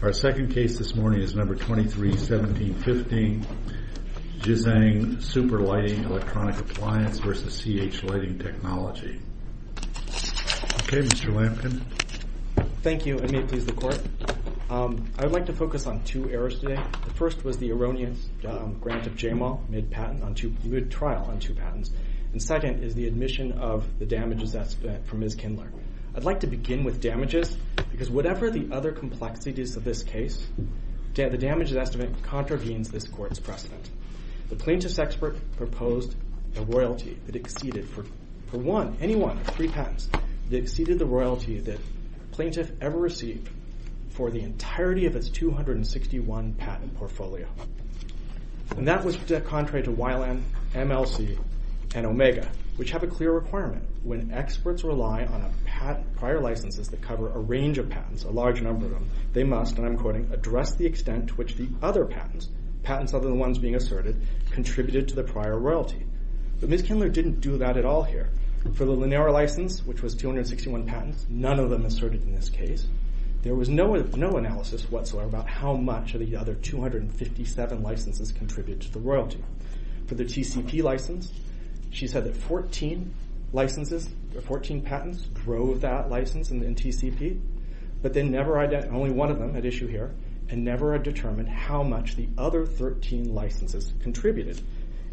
Our second case this morning is No. 23-17-15 Jizang Super Lighting Electronic Appli v. CH Lighting Technology. Okay, Mr. Lampkin. Thank you, and may it please the court. I'd like to focus on two errors today. The first was the erroneous grant of J-Mal, mid patent on two... Good trial on two patents. And second is the admission of the damages that's spent from Ms. Kindler. I'd like to begin with damages, because whatever the other complexities of this case, the damages estimate contravenes this court's precedent. The plaintiff's expert proposed a royalty that exceeded for one, any one of three patents, that exceeded the royalty that plaintiff ever received for the entirety of its 261 patent portfolio. And that was contrary to Weiland, MLC, and Omega, which have a clear requirement. When experts rely on prior licenses that cover a range of patents, a large number of them, they must, and I'm quoting, address the extent to which the other patents, patents other than the ones being asserted, contributed to the prior royalty. But Ms. Kindler didn't do that at all here. For the Linera license, which was 261 patents, none of them asserted in this case. There was no analysis whatsoever about how much of the other 257 licenses contributed to the royalty. For the TCP license, she said that 14 licenses, or 14 patents drove that license in TCP, but then never identified only one of them at issue here, and never had determined how much the other 13 licenses contributed.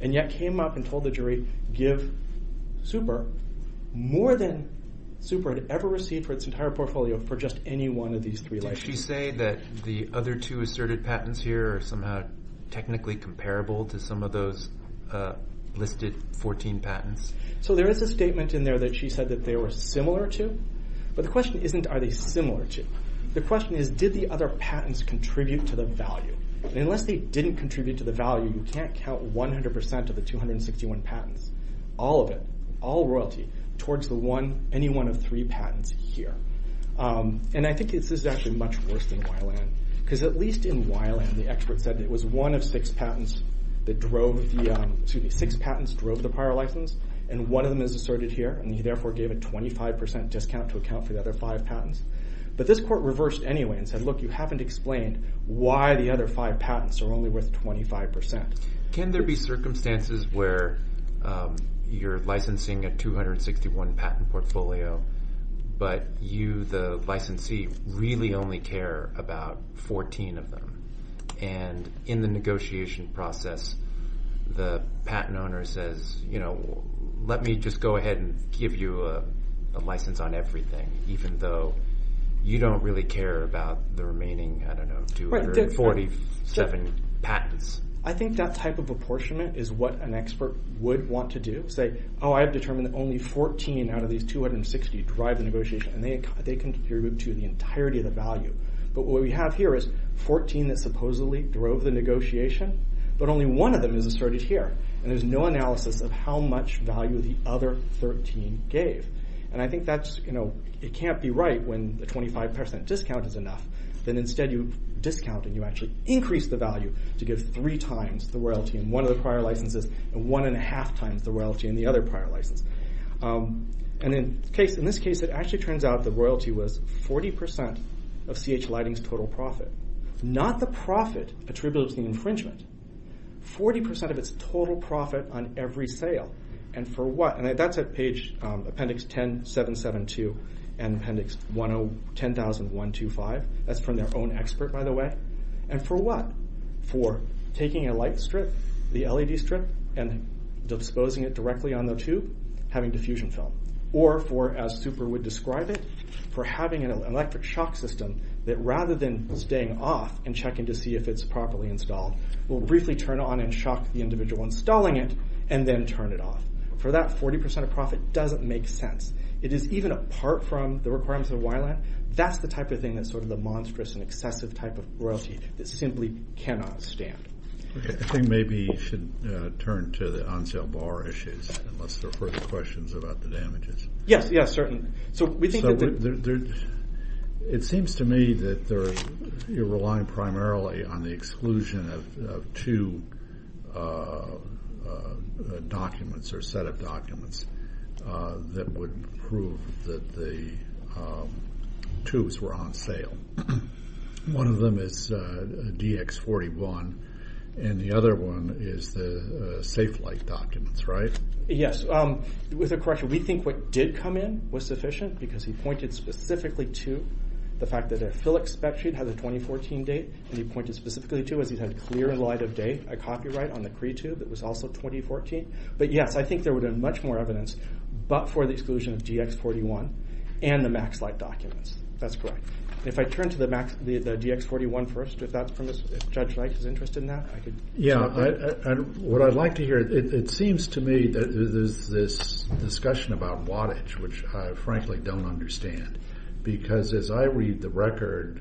And yet, came up and told the jury, give Super more than Super had ever received for its entire portfolio for just any one of these three licenses. Did she say that the other two asserted patents here are somehow technically comparable to some of those listed 14 patents? So there is a statement in there that she said that they were similar to, but the question isn't, are they similar to? The question is, did the other patents contribute to the value? And unless they didn't contribute to the value, you can't count 100% of the 261 patents, all of it, all royalty, towards the one, any one of three patents here. And I think this is actually much worse than Weiland, because at least in Weiland, the expert said it was one of six patents that drove the... Excuse me, six patents drove the prior license, and one of them is asserted here, and he therefore gave a 25% discount to account for the other five patents. But this court reversed anyway and said, look, you haven't explained why the other five patents are only worth 25%. Can there be circumstances where you're licensing a 261 patent portfolio, but you, the licensee, really only care about 14 of them? And in the negotiation process, the patent owner says, let me just go ahead and give you a license on everything, even though you don't really care about the remaining, I don't know, 247 patents. I think that type of apportionment is what an expert would want to do, say, oh, I've determined that only 14 out of these 260 drive the negotiation, and they contribute to the entirety of the value. But what we have here is 14 that supposedly drove the negotiation, but only one of them is asserted here, and there's no analysis of how much value the other 13 gave. And I think that's... It can't be right when the 25% discount is enough, that instead you discount and you actually increase the value to give three times the royalty in one of the prior licenses, and one and a half times the royalty in the other prior license. And in this case, it actually turns out the royalty was 40% of C.H. Lighting's total profit, not the profit attributed to the infringement, 40% of its total profit on every sale. And for what? And that's at page Appendix 10772 and Appendix 10000125. That's from their own expert, by the way. And for what? For taking a light strip, the LED strip, and disposing it directly on the tube, having diffusion film. Or for, as Super would describe it, for having an electric shock system that, rather than staying off and checking to see if it's properly installed, will briefly turn on and shock the individual installing it, and then turn it off. For that 40% of profit doesn't make sense. It is even apart from the requirements of YLAN. That's the type of thing that's sort of the monstrous and excessive type of royalty that simply cannot stand. Okay, I think maybe we should turn to the on sale bar issues, unless there are further questions about the damages. Yes, yes, certainly. So we think that... It seems to me that you're relying primarily on the exclusion of two documents or set of documents that would prove that the tubes were on sale. One of them is DX41, and the other one is the safe light documents, right? Yes. With a correction, we think what did come in was sufficient, because he pointed specifically to the fact that a Philips spec sheet had a 2014 date, and he pointed specifically to, as he said, clear light of day, a copyright on the Cree tube, it was also 2014. But yes, I think there would have been much more evidence, but for the exclusion of DX41 and the Max Light documents. That's correct. If I turn to the DX41 first, if that's... If Judge Light is interested in that, I could... Yeah, what I'd like to hear, it seems to me that there's this discussion about wattage, which I frankly don't understand. Because as I read the record,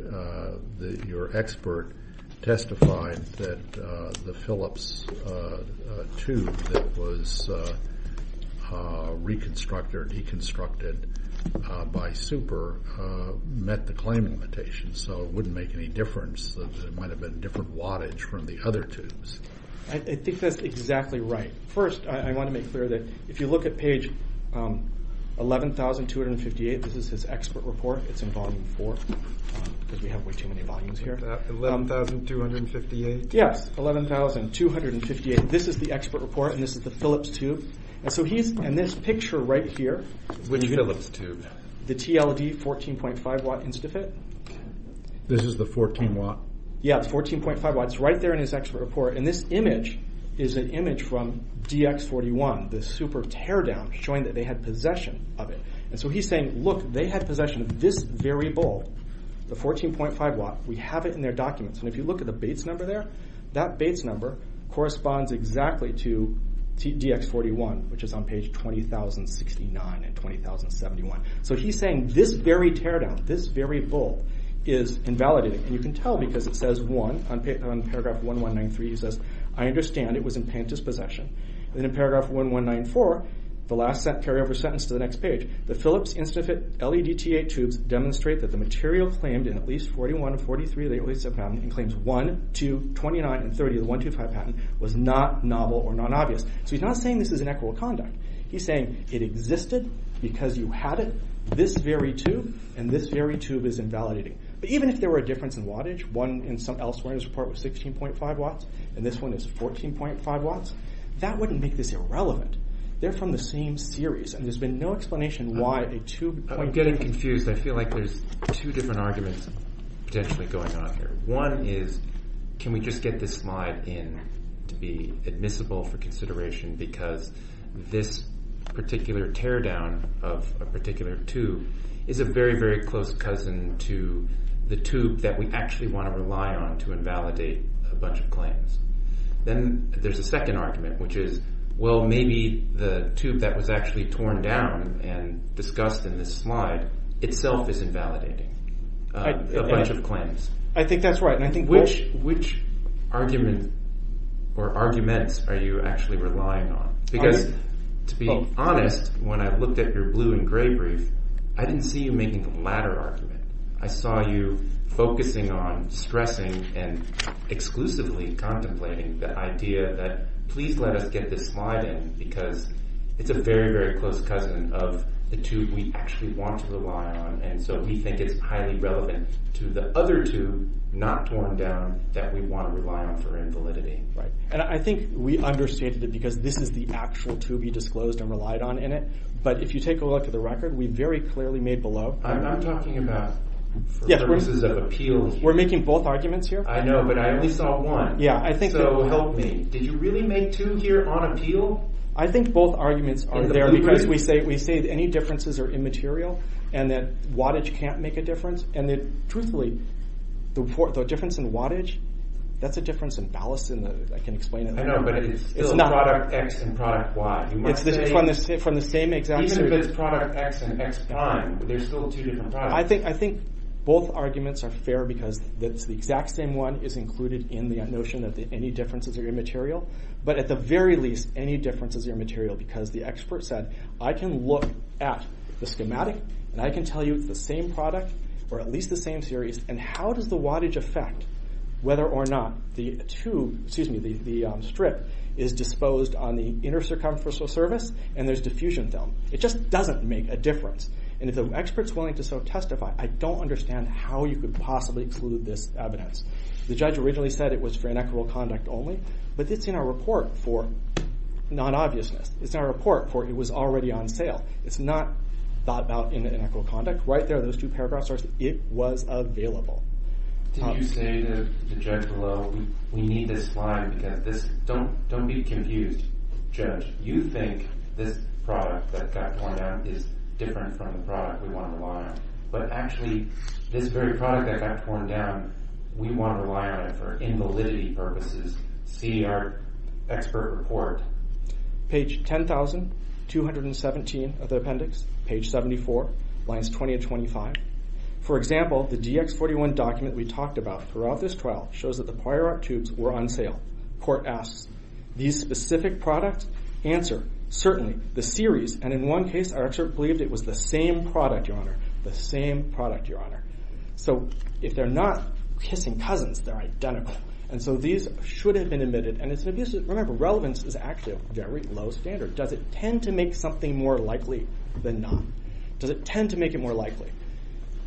your expert testified that the Philips tube that was reconstructed or deconstructed by Super met the claim limitation, so it wouldn't make any difference. It might have been different wattage from the other tubes. I think that's exactly right. First, I wanna make clear that if you look at page 11,258, this is his expert report. It's in volume four, because we have way too many volumes here. 11,258? Yes, 11,258. This is the expert report, and this is the Philips tube. And so he's... And this picture right here... Which Philips tube? The TLD 14.5 watt Instafit. This is the 14 watt? Yeah, it's 14.5 watt. It's right there in his expert report. And this image is an image from DX41, the super teardown, showing that they had possession of it. And so he's saying, look, they had possession of this very bowl, the 14.5 watt. We have it in their documents. And if you look at the Bates number there, that Bates number corresponds exactly to DX41, which is on page 20,069 and 20,071. So he's saying this very teardown, this very bowl is invalidated. And you can tell because it says one on paragraph 1193. He says, I understand it was in Panta's possession. And then in paragraph 1194, the last carry over sentence to the next page, the Philips Instafit LEDT8 tubes demonstrate that the material claimed in at least 41 of 43 of the OASAP patent and claims 1, 2, 29, and 30 of the 125 patent was not novel or non obvious. So he's not saying this is an equitable conduct. He's saying it existed because you had it, this very tube, and this very tube is invalidating. But even if there were a difference in wattage, one in some elsewhere in his report was 16.5 watts, and this one is 14.5 watts, that wouldn't make this irrelevant. They're from the same series, and there's been no explanation why a tube... I'm getting confused. I feel like there's two different arguments potentially going on here. One is, can we just get this slide in to be admissible for consideration because this particular teardown of a particular tube is a very, very close cousin to the tube that we actually wanna rely on to invalidate a bunch of claims. Then there's a second argument, which is, well, maybe the tube that was actually torn down and discussed in this slide itself is invalidating a bunch of claims. I think that's right, and I think... Which argument or arguments are you actually relying on? Because to be honest, when I looked at your blue and gray brief, I didn't see you making the latter argument. I saw you focusing on, stressing, and exclusively contemplating the idea that, please let us get this slide in because it's a very, very close cousin of the tube we actually want to rely on, and so we think it's highly relevant to the other tube not torn down that we wanna rely on for invalidity. Right. And I think we understated it because this is the actual tube you disclosed and relied on in it, but if you take a look at the record, we very clearly made below... I'm talking about for purposes of appeal here. We're making both arguments here. I know, but I only saw one. Yeah, I think that... So help me. Did you really make two here on appeal? I think both arguments are there because we say any differences are immaterial, and that wattage can't make a difference, and that, truthfully, the difference in wattage, that's a difference in ballast, and I can explain it. I know, but it's still product X and product Y. It's from the same exact... Even if it's product X and X prime, there's still two different products. I think both arguments are fair because it's the exact same one is included in the notion that any differences are immaterial, but at the very least, any differences are immaterial because the expert said, I can look at the schematic and I can tell you it's the same product or at least the same series, and how does the wattage affect whether or not the tube... Excuse me, the strip is disposed on the inner circumferential surface and there's diffusion film. It just doesn't make a difference, and if the expert's willing to testify, I don't understand how you could possibly exclude this evidence. The judge originally said it was for inequitable conduct only, but it's in our report for non obviousness. It's in our report for it was already on sale. It's not thought about in inequitable conduct. Right there, those two paragraphs are... It was available. Did you say to the judge below, we need this slide because this... Don't be confused. Judge, you think this product that got torn down is different from the product we wanna rely on, but actually, this very product that got torn down, we wanna rely on it for invalidity purposes. See our expert report. Page 10,217 of the appendix, page 74, lines 20 and 25. For example, the DX41 document we talked about throughout this trial shows that the prior art tubes were on sale. Court asks, these specific products answer, certainly, the series, and in one case, our expert believed it was the same product, Your Honor, the same product, Your Honor. So if they're not kissing cousins, they're identical. And so these should have been admitted, and it's an abuse of... Remember, relevance is actually a very low standard. Does it tend to make something more likely than not? Does it tend to make it more likely?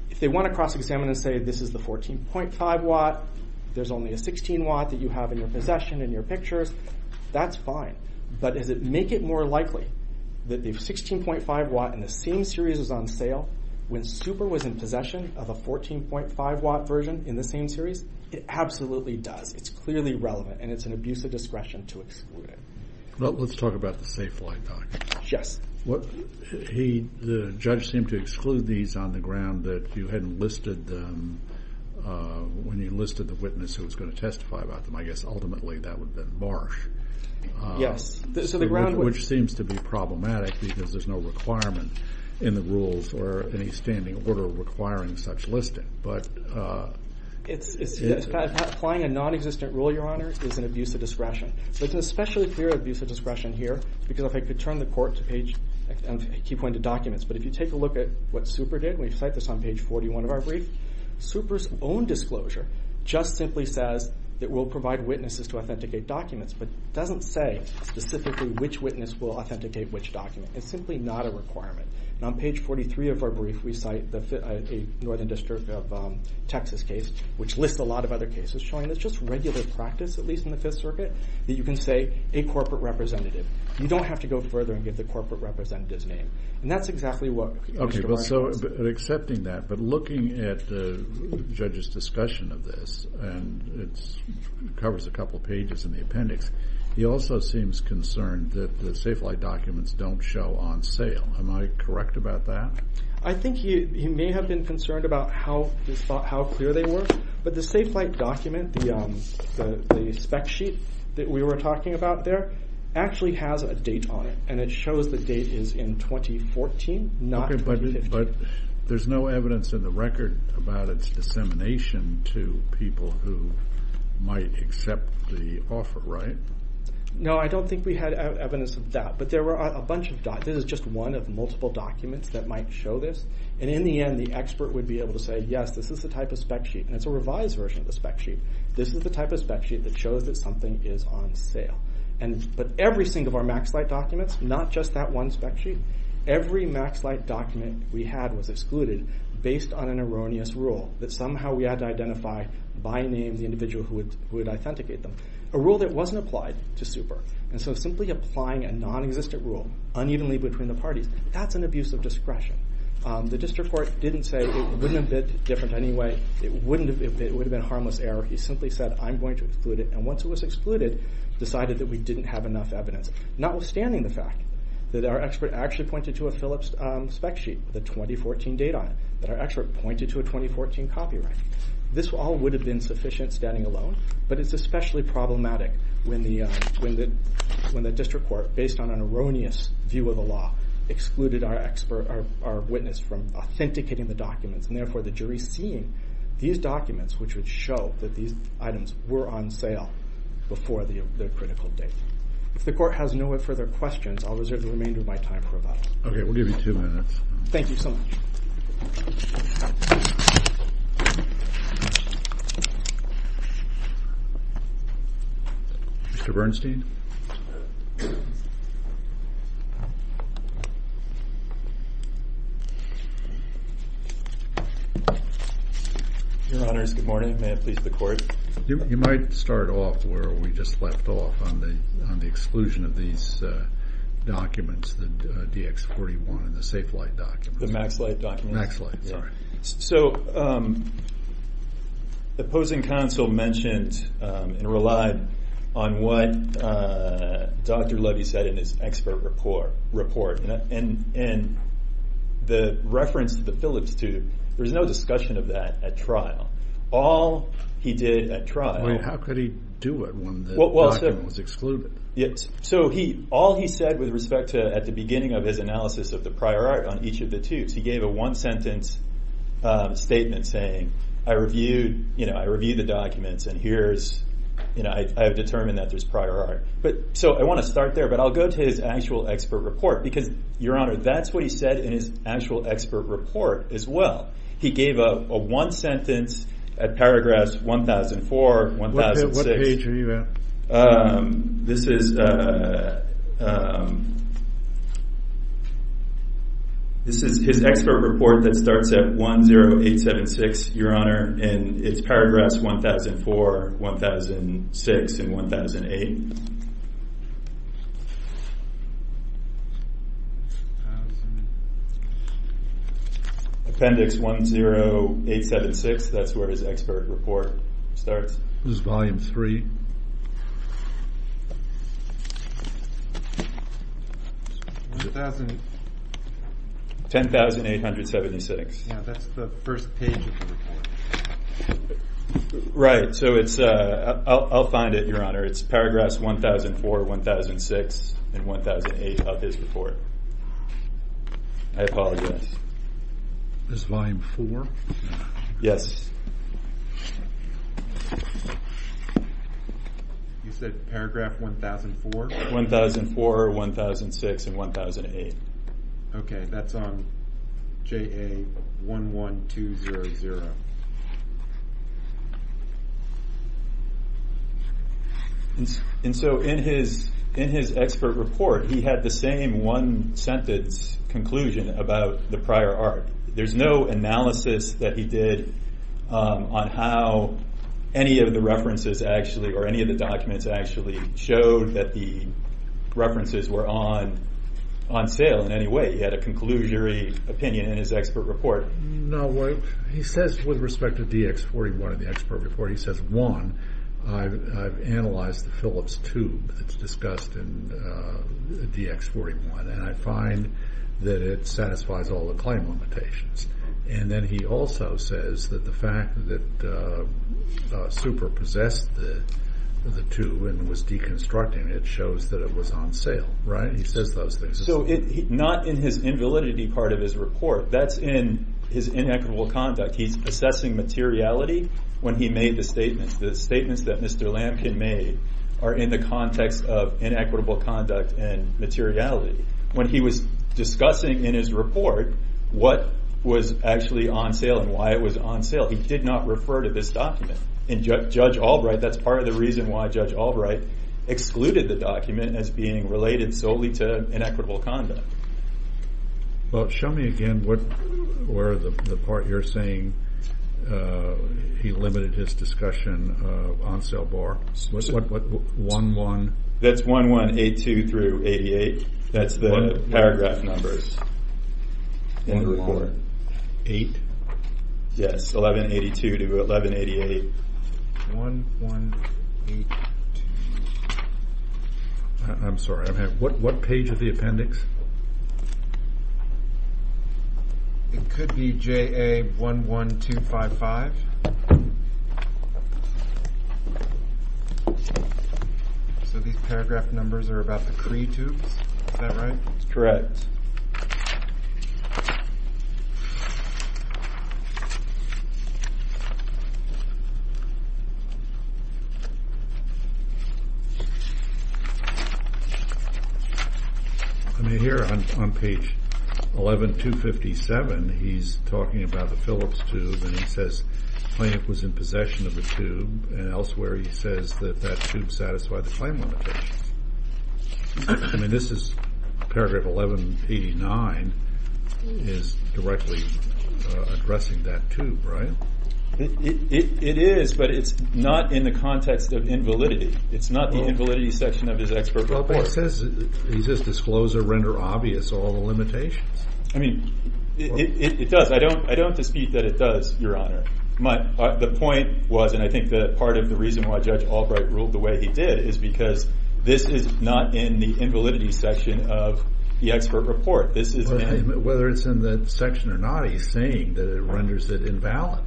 If they wanna cross examine and say, this is the 14.5 watt, there's only a 16 watt that you have in your possession, in your pictures, that's fine. But does it make it more likely that the 16.5 watt in the same series was on sale when Super was in possession of a 14.5 watt version in the same series? It absolutely does. It's clearly relevant, and it's an abuse of discretion to exclude it. Well, let's talk about the safe flight documents. Yes. The judge seemed to exclude these on the ground that you hadn't listed them when you listed the witness who was gonna testify about them. I guess, ultimately, that would have been Marsh. Yes. So the ground... Which seems to be problematic because there's no requirement in the rules or any standing order requiring such listing. But... It's... Applying a non existent rule, Your Honor, is an abuse of discretion. So it's an especially clear abuse of discretion here, because if I could turn the court to page... I keep going to documents, but if you take a look at what Super did, and we cite this on page 41 of our brief, Super's own disclosure just simply says that we'll provide witnesses to authenticate documents, but doesn't say specifically which witness will authenticate which document. It's simply not a requirement. And on page 43 of our brief, we cite the Northern District of Texas case, which lists a lot of other cases, showing it's just regular practice, at least in the Fifth Circuit, that you can say a corporate representative. You don't have to go further and give the corporate representative's name. And that's exactly what Mr. Marsh... Okay, but so, accepting that, but looking at the judge's discussion of this, and it's... Covers a couple of pages in the appendix, he also seems concerned that the Safe Flight documents don't show on sale. Am I correct about that? I think he may have been concerned about how clear they were, but the Safe Flight document, the spec sheet that we were talking about there, actually has a date on it, and it shows the date is in 2014, not 2015. Okay, but there's no evidence in the record about its dissemination to people who might accept the offer, right? No, I don't think we had evidence of that, but there were a bunch of... This is just one of multiple documents that might show this, and in the end, the expert would be able to say, yes, this is the type of spec sheet, and it's a revised version of the spec sheet. This is the type of spec sheet that shows that something is on sale. But every single of our Max Flight documents, not just that one spec sheet, every Max Flight document we had was excluded based on an erroneous rule that somehow we had to identify by name the individual who would authenticate them, a rule that wasn't applied to Super. And so simply applying a non existent rule unevenly between the parties, that's an abuse of discretion. The district court didn't say it wouldn't have been different anyway, it wouldn't have... It would have been a harmless error. He simply said, I'm going to exclude it, and once it was excluded, decided that we didn't have enough evidence. Notwithstanding the fact that our expert actually pointed to a Phillips spec sheet with a 2014 date on it, that our expert pointed to a 2014 copyright. This all would have been sufficient standing alone, but it's especially problematic when the district court, based on an erroneous view of the law, excluded our expert... Our witness from authenticating the documents, and therefore the jury seeing these documents, which would show that these items were on sale before the critical date. If the court has no further questions, I'll reserve the remainder of my time for that. Okay, we'll give you two minutes. Thank you so much. Mr. Bernstein. Your Honors, good morning. May it please the court. You might start off where we just left off on the exclusion of these documents, the DX41 and the SafeLight documents. The MaxLight documents? MaxLight, sorry. So, the opposing counsel mentioned and relied on what Dr. Levy said in his expert report, and the reference to the Phillips tube, there was no discussion of that at trial. All he did at trial... How could he do it when the document was excluded? So, all he said with respect to, at the beginning of his analysis of the prior art on each of the tubes, he gave a one sentence statement saying, I reviewed the documents, and here's... I have determined that there's prior art. So, I wanna start there, but I'll go to his actual expert report, because, Your Honor, that's what he said in his actual expert report as well. He gave a one sentence at paragraph 1004, 1006. What page are you at? This is his expert report that starts at 10876, Your Honor, and it's paragraph 1004, 1006, and 1008. Appendix 10876, that's where his expert report starts. This is volume three. 1,000... 10,876. Yeah, that's the first page of the report. Right, so it's... I'll find it, Your Honor. It's paragraph 1004, 1006, and 1008 of his report. I apologize. It's volume four? Yes. You said paragraph 1004? 1004, 1006, and 1008. Okay, that's on JA11200. And so, in his expert report, he had the same one sentence conclusion about the prior art. There's no analysis that he did on how any of the references actually, or any of the documents actually, showed that the references were on sale in any way. He had a conclusory opinion in his expert report. No, what he says with respect to DX41 in the expert report, he says, one, I've analyzed the Phillips tube that's discussed in DX41, and I find that it satisfies all the claim limitations. And then he also says that the fact that Super possessed the tube and was deconstructing it shows that it was on sale, right? He says those things. So, not in his invalidity part of his report, that's in his inequitable conduct. He's assessing materiality when he made the statements. The statements that Mr. Lamkin made are in the context of inequitable conduct and materiality. When he was discussing in his report what was actually on sale and why it was on sale, he did not refer to this document. And Judge Albright, that's part of the reason why Judge Albright excluded the document as being related solely to inequitable conduct. Well, show me again where the part you're saying, he limited his discussion of on sale bar. What 11... That's 1182 through 88. That's the paragraph numbers in the report. 1188? Yes, 1182 to 1188. 1182. I'm sorry, what page of the appendix? It could be JA11255. So these paragraph numbers are about the Cree tubes? Is that right? That's correct. I mean, here on page 11257, he's talking about the Phillips tube, and he says, the plaintiff was in possession of the tube, and elsewhere he says that that tube satisfied the claim limitations. I mean, this is paragraph 1189, is directly addressing that tube, right? It is, but it's not in the context of invalidity. It's not the invalidity section of his expert report. Well, but it says, he says, disclose or render obvious all the limitations. I mean, it does. I don't dispute that it does, Your Honor. The point was, and I think that part of the reason why Judge Albright ruled the way he did, is because this is not in the invalidity section of the expert report. This is... Whether it's in that section or not, he's saying that it renders it invalid.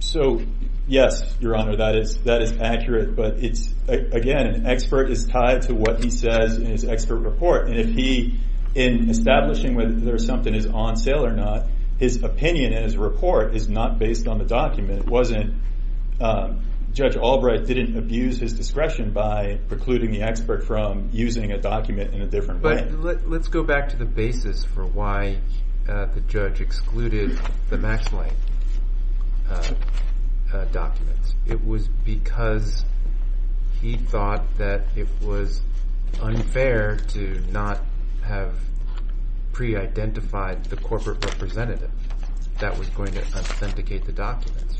So, yes, Your Honor, that is accurate, but it's, again, an expert is tied to what he says in his expert report. And if he, in establishing whether something is on sale or not, his opinion in his report is not based on the document. It wasn't... Judge Albright didn't abuse his discretion by precluding the expert from using a document in a different way. But let's go back to the basis for why the judge excluded the Max Line documents. It was because he thought that it was unfair to not have pre identified the corporate representative that was going to authenticate the documents.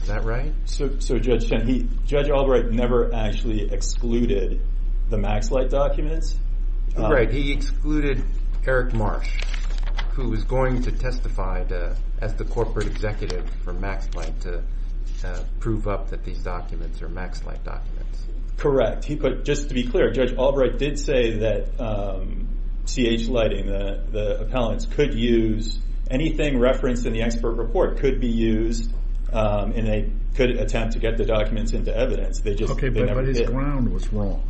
Is that right? So, Judge Chen, Judge Albright never actually excluded the Max Line documents? Right. He excluded Eric Marsh, who was going to testify as the corporate executive for Max Line to prove up that these documents are Max Line documents. Correct. He put... Just to be clear, Judge Albright did say that CH Lighting, the appellants, could use... Anything referenced in the expert report could be used in a good attempt to get the documents into evidence. They just... Okay, but his ground was wrong.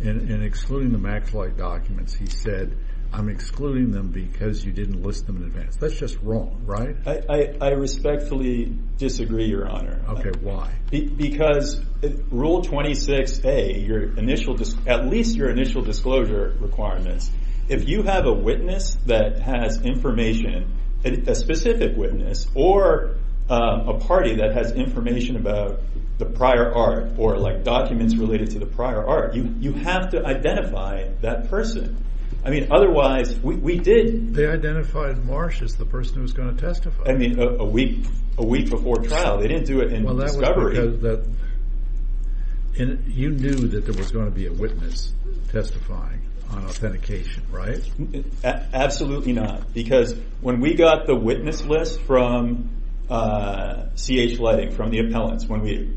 In excluding the Max Light documents, he said, I'm excluding them because you didn't list them in advance. That's just wrong, right? I respectfully disagree, Your Honor. Okay, why? Because Rule 26A, your initial... At least your initial disclosure requirements, if you have a witness that has information, a specific witness or a party that has information about the prior art or documents related to the prior art, you have to identify that person. Otherwise, we did... They identified Marsh as the person who was gonna testify. I mean, a week before trial. They didn't do it in discovery. Well, that was because... You knew that there was gonna be a witness testifying on authentication, right? Absolutely not. Because when we got the witness list from CH Lighting, from the appellants, when we...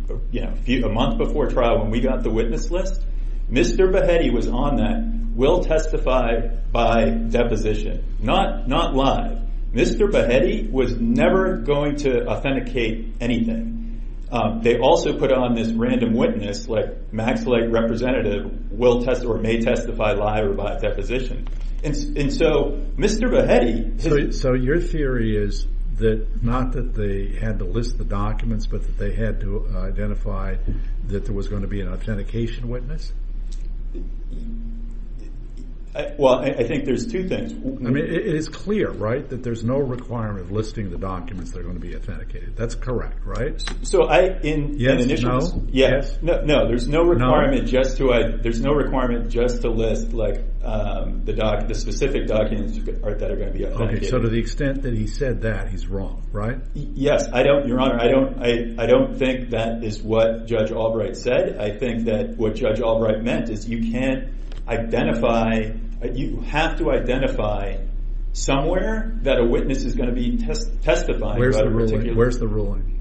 A month before trial, when we got the witness list, Mr. Behetti was on that, will testify by deposition. Not live. Mr. Behetti was never going to authenticate anything. They also put on this random witness, like Max Light representative, will test or may testify live or by deposition. And so Mr. Behetti... So your theory is that, not that they had to list the documents, but that they had to identify that there was gonna be an authentication witness? Well, I think there's two things. I mean, it is clear, right, that there's no requirement of listing the documents that are gonna be authenticated. That's correct, right? So I... In the initials... Yes, no. There's no requirement just to list the specific documents that are gonna be authenticated. Okay, so to the extent that he said that, he's wrong, right? Yes. I don't, Your Honor, I don't think that is what Judge Albright said. I think that what Judge Albright meant is you can't identify... You have to identify somewhere that a witness is gonna be testifying about a particular... Where's the ruling? Where's the ruling?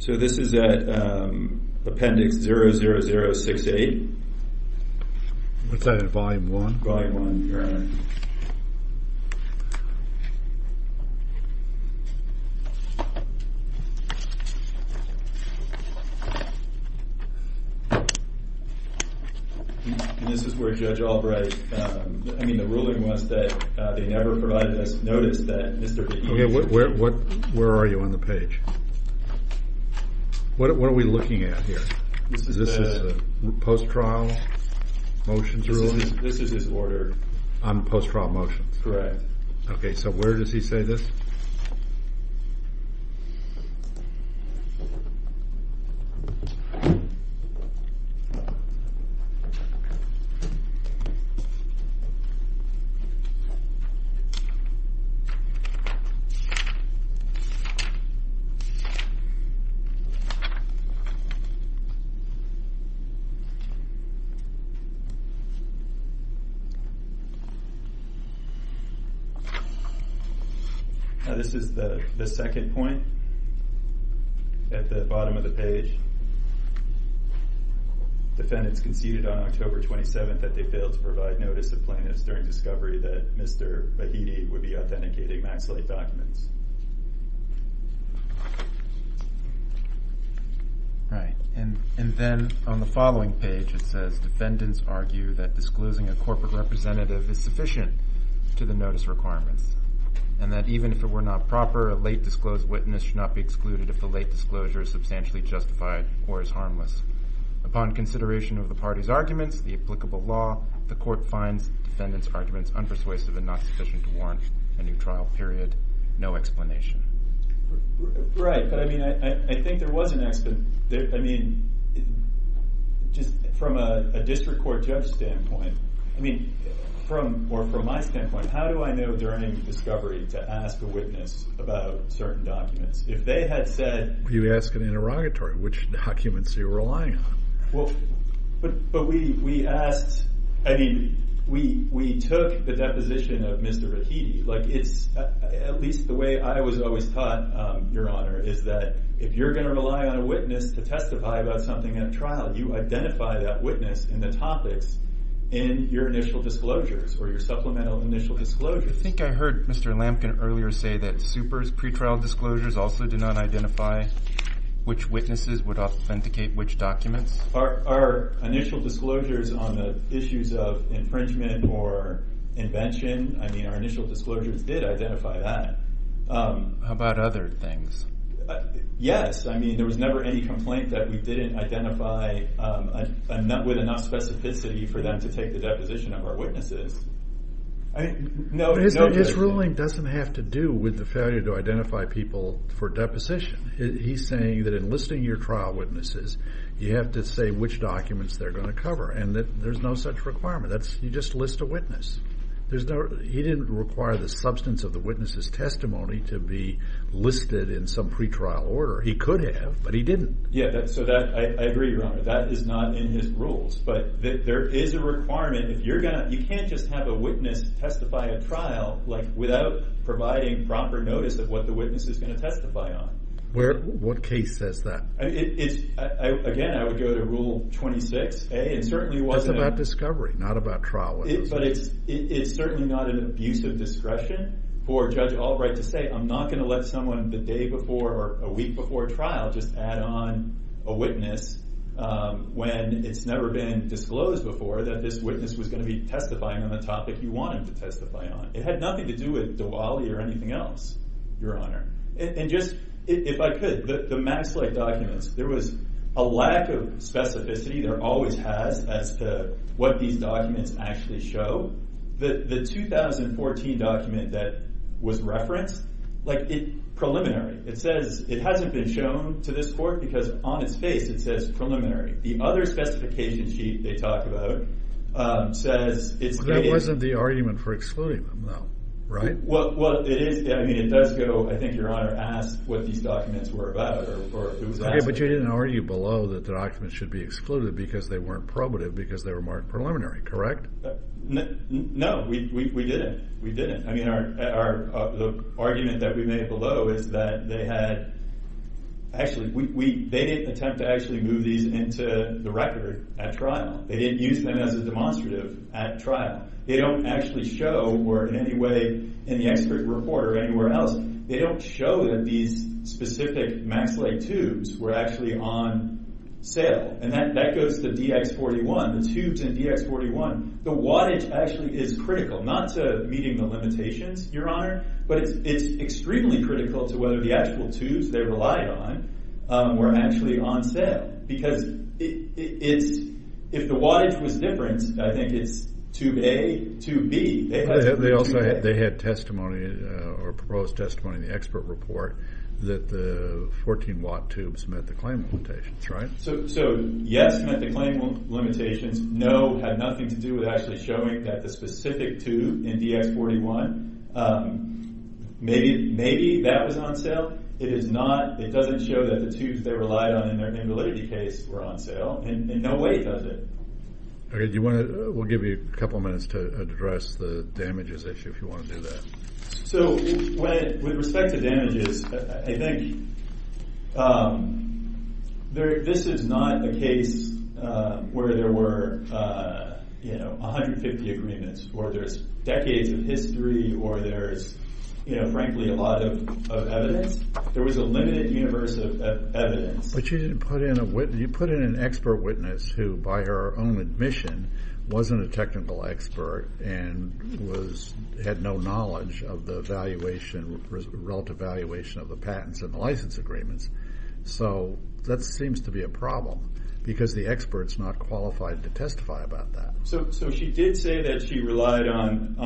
So this is at Appendix 00068. What's that? Volume one? Volume one, Your Honor. And this is where Judge Albright... I mean, the ruling was that they never provided us notice that Mr. Behetti... Okay, where are you on the page? What are we looking at here? This is the... This is the post trial motions ruling? This is his order. On the post trial motions? Correct. Okay, so where does he say this? Now, this is the second point. At the bottom of the page, defendants conceded on October 27th that they failed to provide notice of plaintiffs during discovery that Mr. Behetti would be authenticating max A documents. Right, and then on the following page, it says defendants argue that disclosing a corporate representative is sufficient to the notice requirements, and that even if it were not proper, a late disclosed witness should not be excluded if the late disclosure is substantially justified or is harmless. Upon consideration of the party's arguments, the applicable law, the court finds defendants' arguments unpersuasive and not sufficient to launch a new trial period. No explanation. Right, but I think there was an... Just from a district court judge standpoint, or from my standpoint, how do I know during discovery to ask a witness about certain documents? If they had said... You ask an interrogatory, which documents are you relying on? Well, but we asked... I mean, we took the deposition of Mr. Behetti. At least the way I was always taught, Your Honor, is that if you're gonna rely on a witness to testify about something at trial, you identify that witness in the topics in your initial disclosures or your supplemental initial disclosures. I think I heard Mr. Lampkin earlier say that Super's pretrial disclosures also did not identify which witnesses would authenticate which documents. Our initial disclosures on the issues of infringement or invention, I mean, our initial disclosures did identify that. How about other things? Yes, I mean, there was never any complaint that we didn't identify with enough specificity for them to take the deposition of our witnesses. I mean, no... But his ruling doesn't have to do with the failure to identify people for deposition. He's saying that in listing your trial witnesses, you have to say which documents they're gonna cover, and that there's no such requirement. That's... You just list a witness. There's no... He didn't require the substance of the witness's testimony to be listed in some pretrial order. He could have, but he didn't. Yeah, so that... I agree, Your Honor. That is not in his rules, but there is a requirement. If you're gonna... You can't just have a witness testify at trial without providing proper notice of what the witness is gonna testify on. What case says that? Again, I would go to Rule 26A. It certainly wasn't... That's about discovery, not about trial witnesses. But it's certainly not an abuse of discretion for Judge Albright to say, I'm not gonna let someone the day before or a week before trial just add on a witness when it's never been disclosed before that this witness was gonna be testifying on the topic you want him to testify on. It had nothing to do with Diwali or anything else, Your Honor. And just, if I could, the Max Lake documents, there was a lack of specificity. There always has as to what these documents actually show. The 2014 document that was referenced, preliminary. It says it hasn't been shown to this court because on its face it says preliminary. The other specification sheet they talk about says it's... That wasn't the argument for excluding them, though, right? Well, it is. I mean, it does go... I think Your Honor asked what these documents were about or who was asking. Okay, but you didn't argue below that the documents should be excluded because they weren't probative because they were marked preliminary, correct? No, we didn't. We didn't. I mean, the argument that we made below is that they had... Actually, they didn't attempt to actually move these into the record at trial. They didn't use them as a demonstrative at trial. They don't actually show, or in any way in the expert report or anywhere else, they don't show that these specific Max Lake tubes were actually on sale. And that goes to DX41. The tubes in DX41, the wattage actually is critical, not to meeting the limitations, Your Honor, but it's extremely critical to whether the actual tubes they relied on were actually on sale. Because if the wattage was different, I think it's tube A, tube B. They had testimony or proposed testimony in the expert report that the 14 watt tubes met the claim limitations, right? So, yes, met the claim limitations. No, had nothing to do with actually showing that the specific tube in DX41, maybe that was on sale. It is not. It doesn't show that the tubes they relied on in the liturgy case were on sale. In no way does it. Okay, do you wanna... We'll give you a couple of minutes to address the damages issue, if you wanna do that. So, with respect to damages, I think this is not a case where there were 150 agreements, or there's decades of history, or there's, frankly, a lot of evidence. There was a limited universe of evidence. But you didn't put in a witness... You put in an expert witness who, by her own admission, wasn't a technical expert and had no knowledge of the valuation, relative valuation of the patents and the license agreements. So that seems to be a problem, because the expert's not qualified to testify about that. So, she did say that she relied on...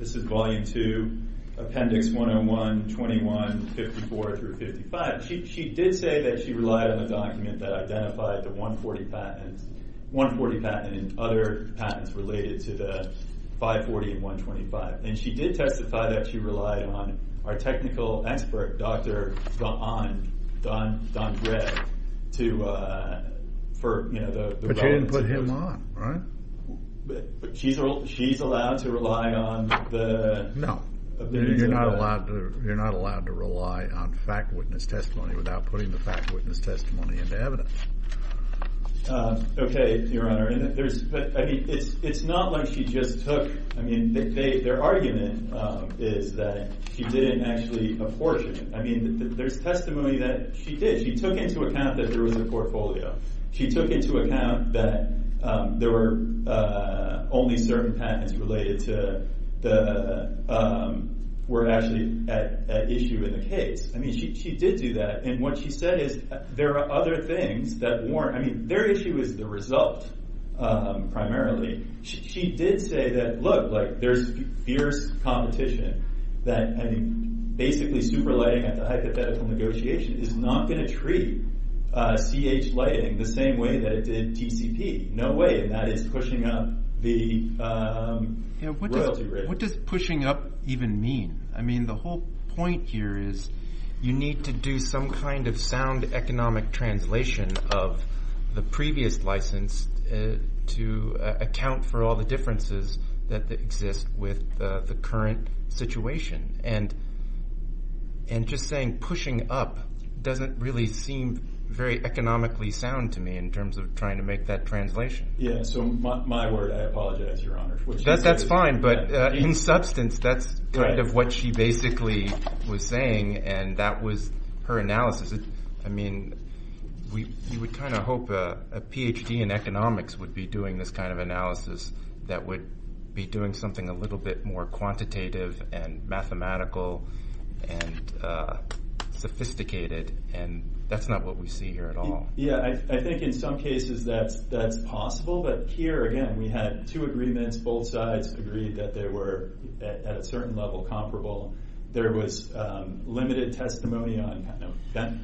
This is volume two, appendix 101, 21, 54 through 55. She did say that she relied on a document that identified the 140 patents, 140 patent and other patents related to the 540 and 125. And she did testify that she relied on our technical expert, Dr. Don Dredge, for the... But you didn't put him on, right? But she's allowed to rely on the... No. You're not allowed to rely on fact witness testimony without putting the fact witness testimony into evidence. Okay, Your Honor. It's not like she just took... Their argument is that she didn't actually apportion it. There's testimony that she did. She took into account that there was a portfolio. She took into account that there were only certain patents related to the... Were actually at issue in the case. She did do that. And what she said is, there are other things that weren't... Their issue is the result, primarily. She did say that, look, there's fierce competition that basically super lighting at the hypothetical negotiation is not gonna treat CH lighting the same way that it did TCP. No way. And that is pushing up the royalty rating. What does pushing up even mean? The whole point here is, you need to do some kind of sound economic translation of the previous license to account for all the differences that exist with the current situation. And just saying pushing up doesn't really seem very economically sound to me in terms of trying to make that translation. Yeah, so my word, I apologize, Your Honor. That's fine, but in substance, that's kind of what she basically was saying, and that was her analysis. You would kind of hope a PhD in economics would be doing this kind of analysis that would be doing something a little bit more quantitative and mathematical and sophisticated, and that's not what we see here at all. Yeah, I think in some cases that's possible, but here, again, we had two agreements, both sides agreed that they were at a certain level comparable. There was limited testimony on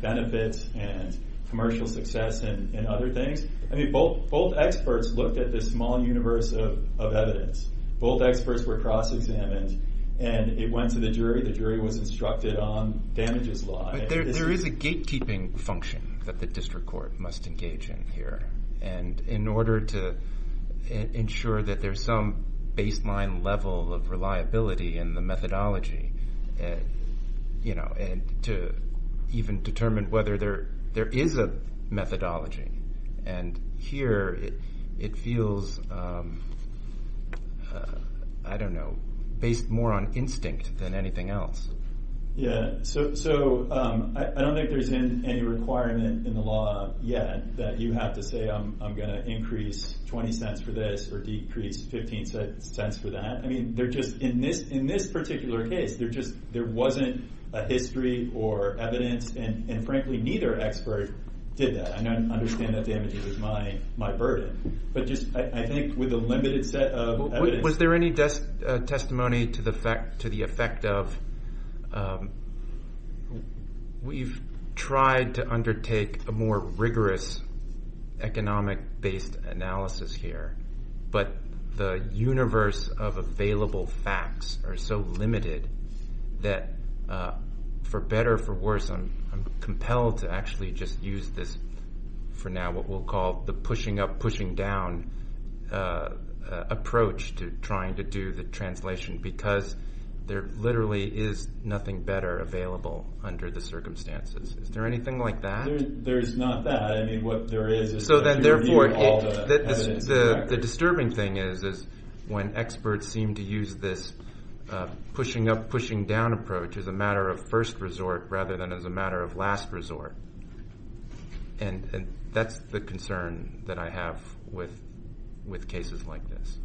benefits and commercial success and other things. I mean, both experts looked at this small universe of evidence. Both experts were cross examined, and it went to the jury. The jury was instructed on damages law. But there is a gate keeping function that the district court must engage in here. And in order to ensure that there's some baseline level of reliability in the methodology, and to even determine whether there is a methodology. And here, it feels, I don't know, based more on instinct than anything else. Yeah, so I don't think there's any requirement in the law yet that you have to say, I'm gonna increase 20 cents for this, or decrease 15 cents for that. I mean, they're just... In this particular case, there just... There wasn't a history or evidence, and frankly, neither expert did that. I understand that damages is my burden. But just, I think with a limited set of evidence... Was there any testimony to the effect of... We've tried to undertake a more rigorous economic based analysis here, but the universe of available facts are so limited that, for better or for worse, I'm compelled to actually just use this, for now, what we'll call the pushing up, pushing down approach to trying to do the translation. Because there literally is nothing better available under the circumstances. Is there anything like that? There's not that. I mean, what there is... So then, therefore, all the evidence... The disturbing thing is, is when experts seem to use this pushing up, pushing down approach as a matter of first resort, rather than as a matter of last resort. And that's the concern that I have with cases like this.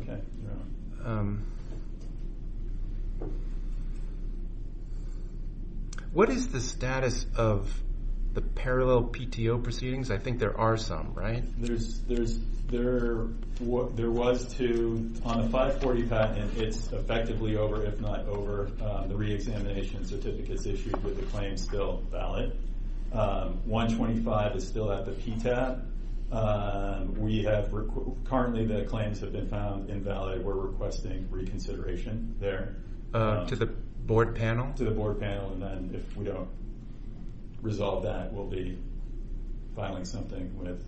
Okay, you're on. What is the status of the parallel PTO proceedings? I think there are some, right? There was two. On the 540 patent, it's effectively over, if not over. The reexamination certificate is issued with the claim still valid. 125 is still at the PTAB. We have... Currently, the claims have been found invalid. We're requesting reconsideration there. To the board panel? To the board panel. And then, if we don't resolve that, we'll be filing something with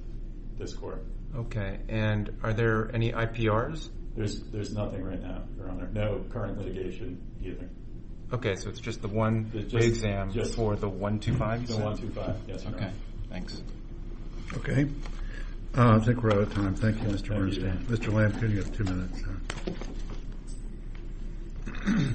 this court. Okay. And are there any IPRs? There's nothing right now, Your Honor. No current litigation either. Okay, so it's just the one reexam for the 125? It's the 125. Yes, thank you. I think we're out of time. Thank you, Mr. Bernstein. Mr. Lampe, you have two minutes. Thank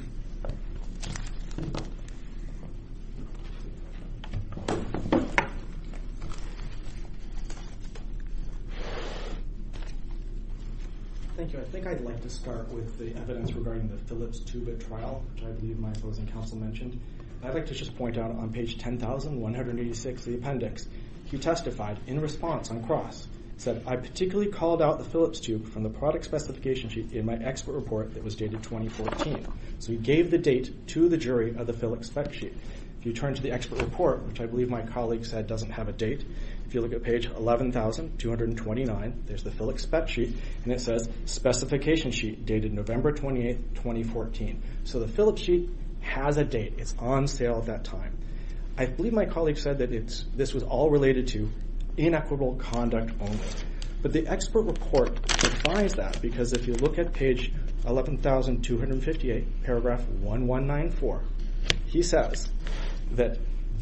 you. I think I'd like to start with the evidence regarding the Phillips two bit trial, which I believe my opposing counsel mentioned. I'd like to just point out on page 10186, the appendix, he testified in response on cross, said, I particularly called out the Phillips tube from the product specification sheet in my expert report that was dated 2014. So he gave the date to the jury of the Phillips spec sheet. If you turn to the expert report, which I believe my colleague said doesn't have a date, if you look at page 11,229, there's the Phillips spec sheet, and it says, specification sheet dated November 28th, 2014. So the Phillips sheet has a date. It's on sale at that time. I believe my colleague said that this was all related to inequitable conduct only. But the expert report defies that, because if you look at page 11,258, paragraph 1194, he says that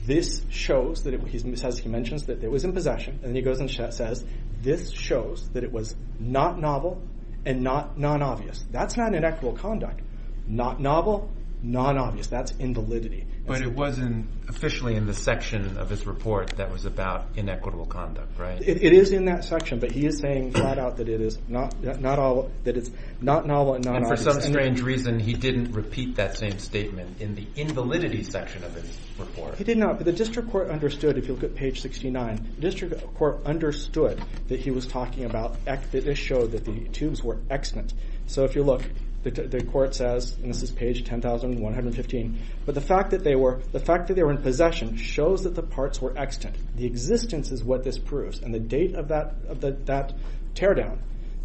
this shows that... He says, he mentions that it was in possession, and he goes and says, this shows that it was not novel and not non obvious. That's not inequitable conduct. Not novel, non obvious. That's invalidity. But it wasn't officially in the section of his report that was about inequitable conduct, right? It is in that section, but he is saying flat out that it is not novel and not obvious. And for some strange reason, he didn't repeat that same statement in the invalidity section of his report. He did not, but the district court understood, if you look at page 69, district court understood that he was talking about... That this showed that the tubes were extant. So if you look, the court says, and this is page 10,115, but the fact that they were in possession shows that the parts were extant. The existence is what this proves, and the date of that teardown,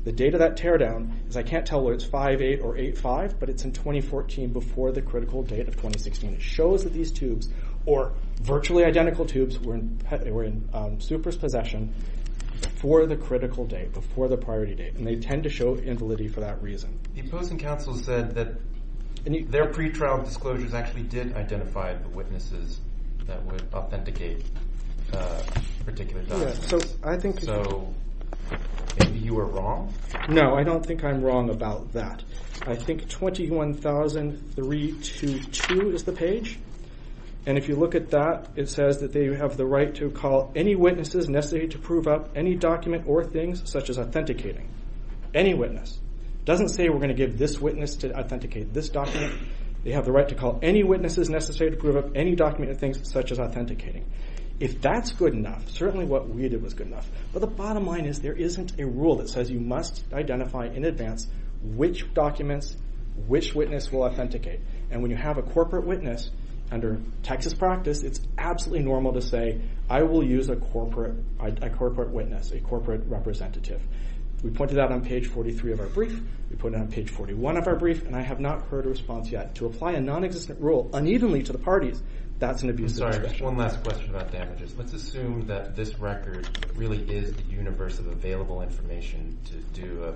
the date of that teardown is, I can't tell whether it's 5-8 or 8-5, but it's in 2014, before the critical date of 2016. It shows that these tubes, or virtually identical tubes, were in Supra's possession before the critical date, before the priority date, and they tend to show invalidity for that reason. The opposing counsel said that their pre trial disclosures actually did identify the witnesses that would authenticate particular documents. Yeah, so I think... So, maybe you are wrong? No, I don't think I'm wrong about that. I think 21,322 is the page, and if you look at that, it says that they have the right to call any witnesses necessary to prove up any document or things, such as authenticating any witness. It doesn't say we're gonna give this witness to authenticate this document. They have the right to call any witnesses necessary to prove up any document or things, such as authenticating. If that's good enough, certainly what we did was good enough, but the bottom line is there isn't a rule that says you must identify in advance which documents which witness will authenticate. And when you have a corporate witness, under Texas practice, it's absolutely normal to say, I will use a corporate witness, a corporate representative. We pointed that on page 43 of our brief. We put it on page 41 of our brief, and I have not heard a response yet. To apply a non existent rule unevenly to the parties, that's an abusive expression. I'm sorry, just one last question about damages. Let's assume that this record really is the universe of available information to do a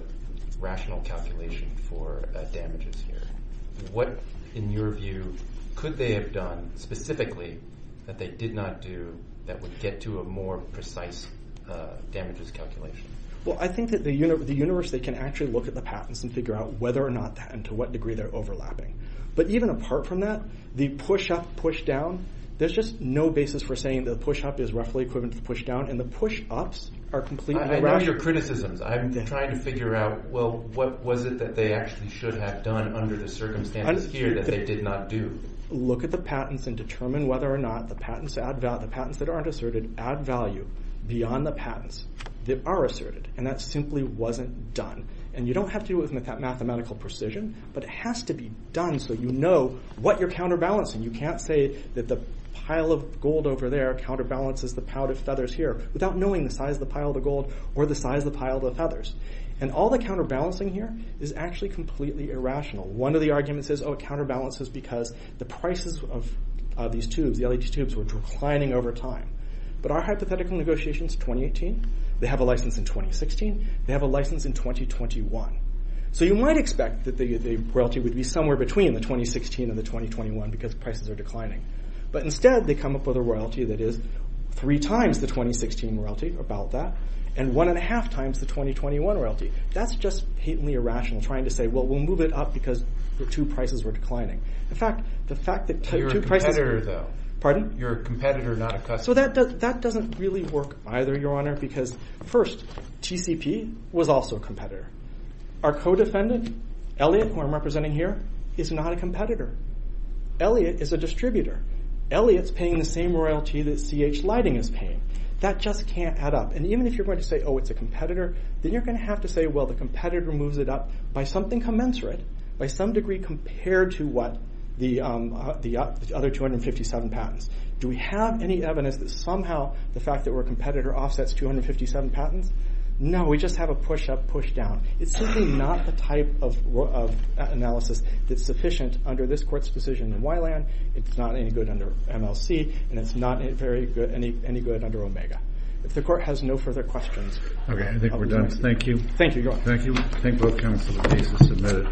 rational calculation for damages here. What, in your view, could they have done specifically that they did not do that would get to a more precise damages calculation? Well, I think the universe, they can actually look at the patents and figure out whether or not that, and to what degree they're overlapping. But even apart from that, the push up, push down, there's just no basis for saying that the push up is roughly equivalent to the push down, and the push ups are completely... I know your criticisms. I'm trying to figure out, well, what was it that they actually should have done under the circumstances here that they did not do? Look at the patents and determine whether or not the patents that aren't asserted add value beyond the patents that are asserted. And that simply wasn't done. And you don't have to do it with that mathematical precision, but it has to be done so you know what you're counterbalancing. You can't say that the pile of gold over there counterbalances the pile of feathers here without knowing the size of the pile of the gold or the size of the pile of the feathers. And all the counterbalancing here is actually completely irrational. One of the arguments is, oh, it counterbalances because the prices of these tubes, the LED tubes, were declining over time. But our hypothetical negotiations, 2018, they have a license in 2016, they have a license in 2021. So you might expect that the royalty would be somewhere between the 2016 and the 2021 because prices are declining. But instead, they come up with a royalty that is three times the 2016 royalty, about that, and one and a half times the 2021 royalty. That's just patently irrational, trying to say, well, we'll move it up because the two prices were declining. In fact, the fact that two prices... You're a competitor, though. Pardon? You're a competitor, not a customer. So that doesn't really work either, Your Honor, because first, TCP was also a competitor. Our co-defendant, Elliot, who I'm representing here, is not a competitor. Elliot is a distributor. Elliot's paying the same royalty that CH Lighting is paying. That just can't add up. And even if you're going to say, oh, it's a competitor, then you're gonna have to say, well, the competitor moves it up by something commensurate, by some degree compared to what the other 257 patents. Do we have any evidence that somehow the fact that we're a competitor offsets 257 patents? No, we just have a push up, push down. It's simply not the type of analysis that's sufficient under this court's decision in Wyland. It's not any good under MLC, and it's not very good, any good under Omega. If the court has no further questions... Okay, I think we're done. Thank you. Thank you, Your Honor. Thank you. Thank both counts for the cases submitted.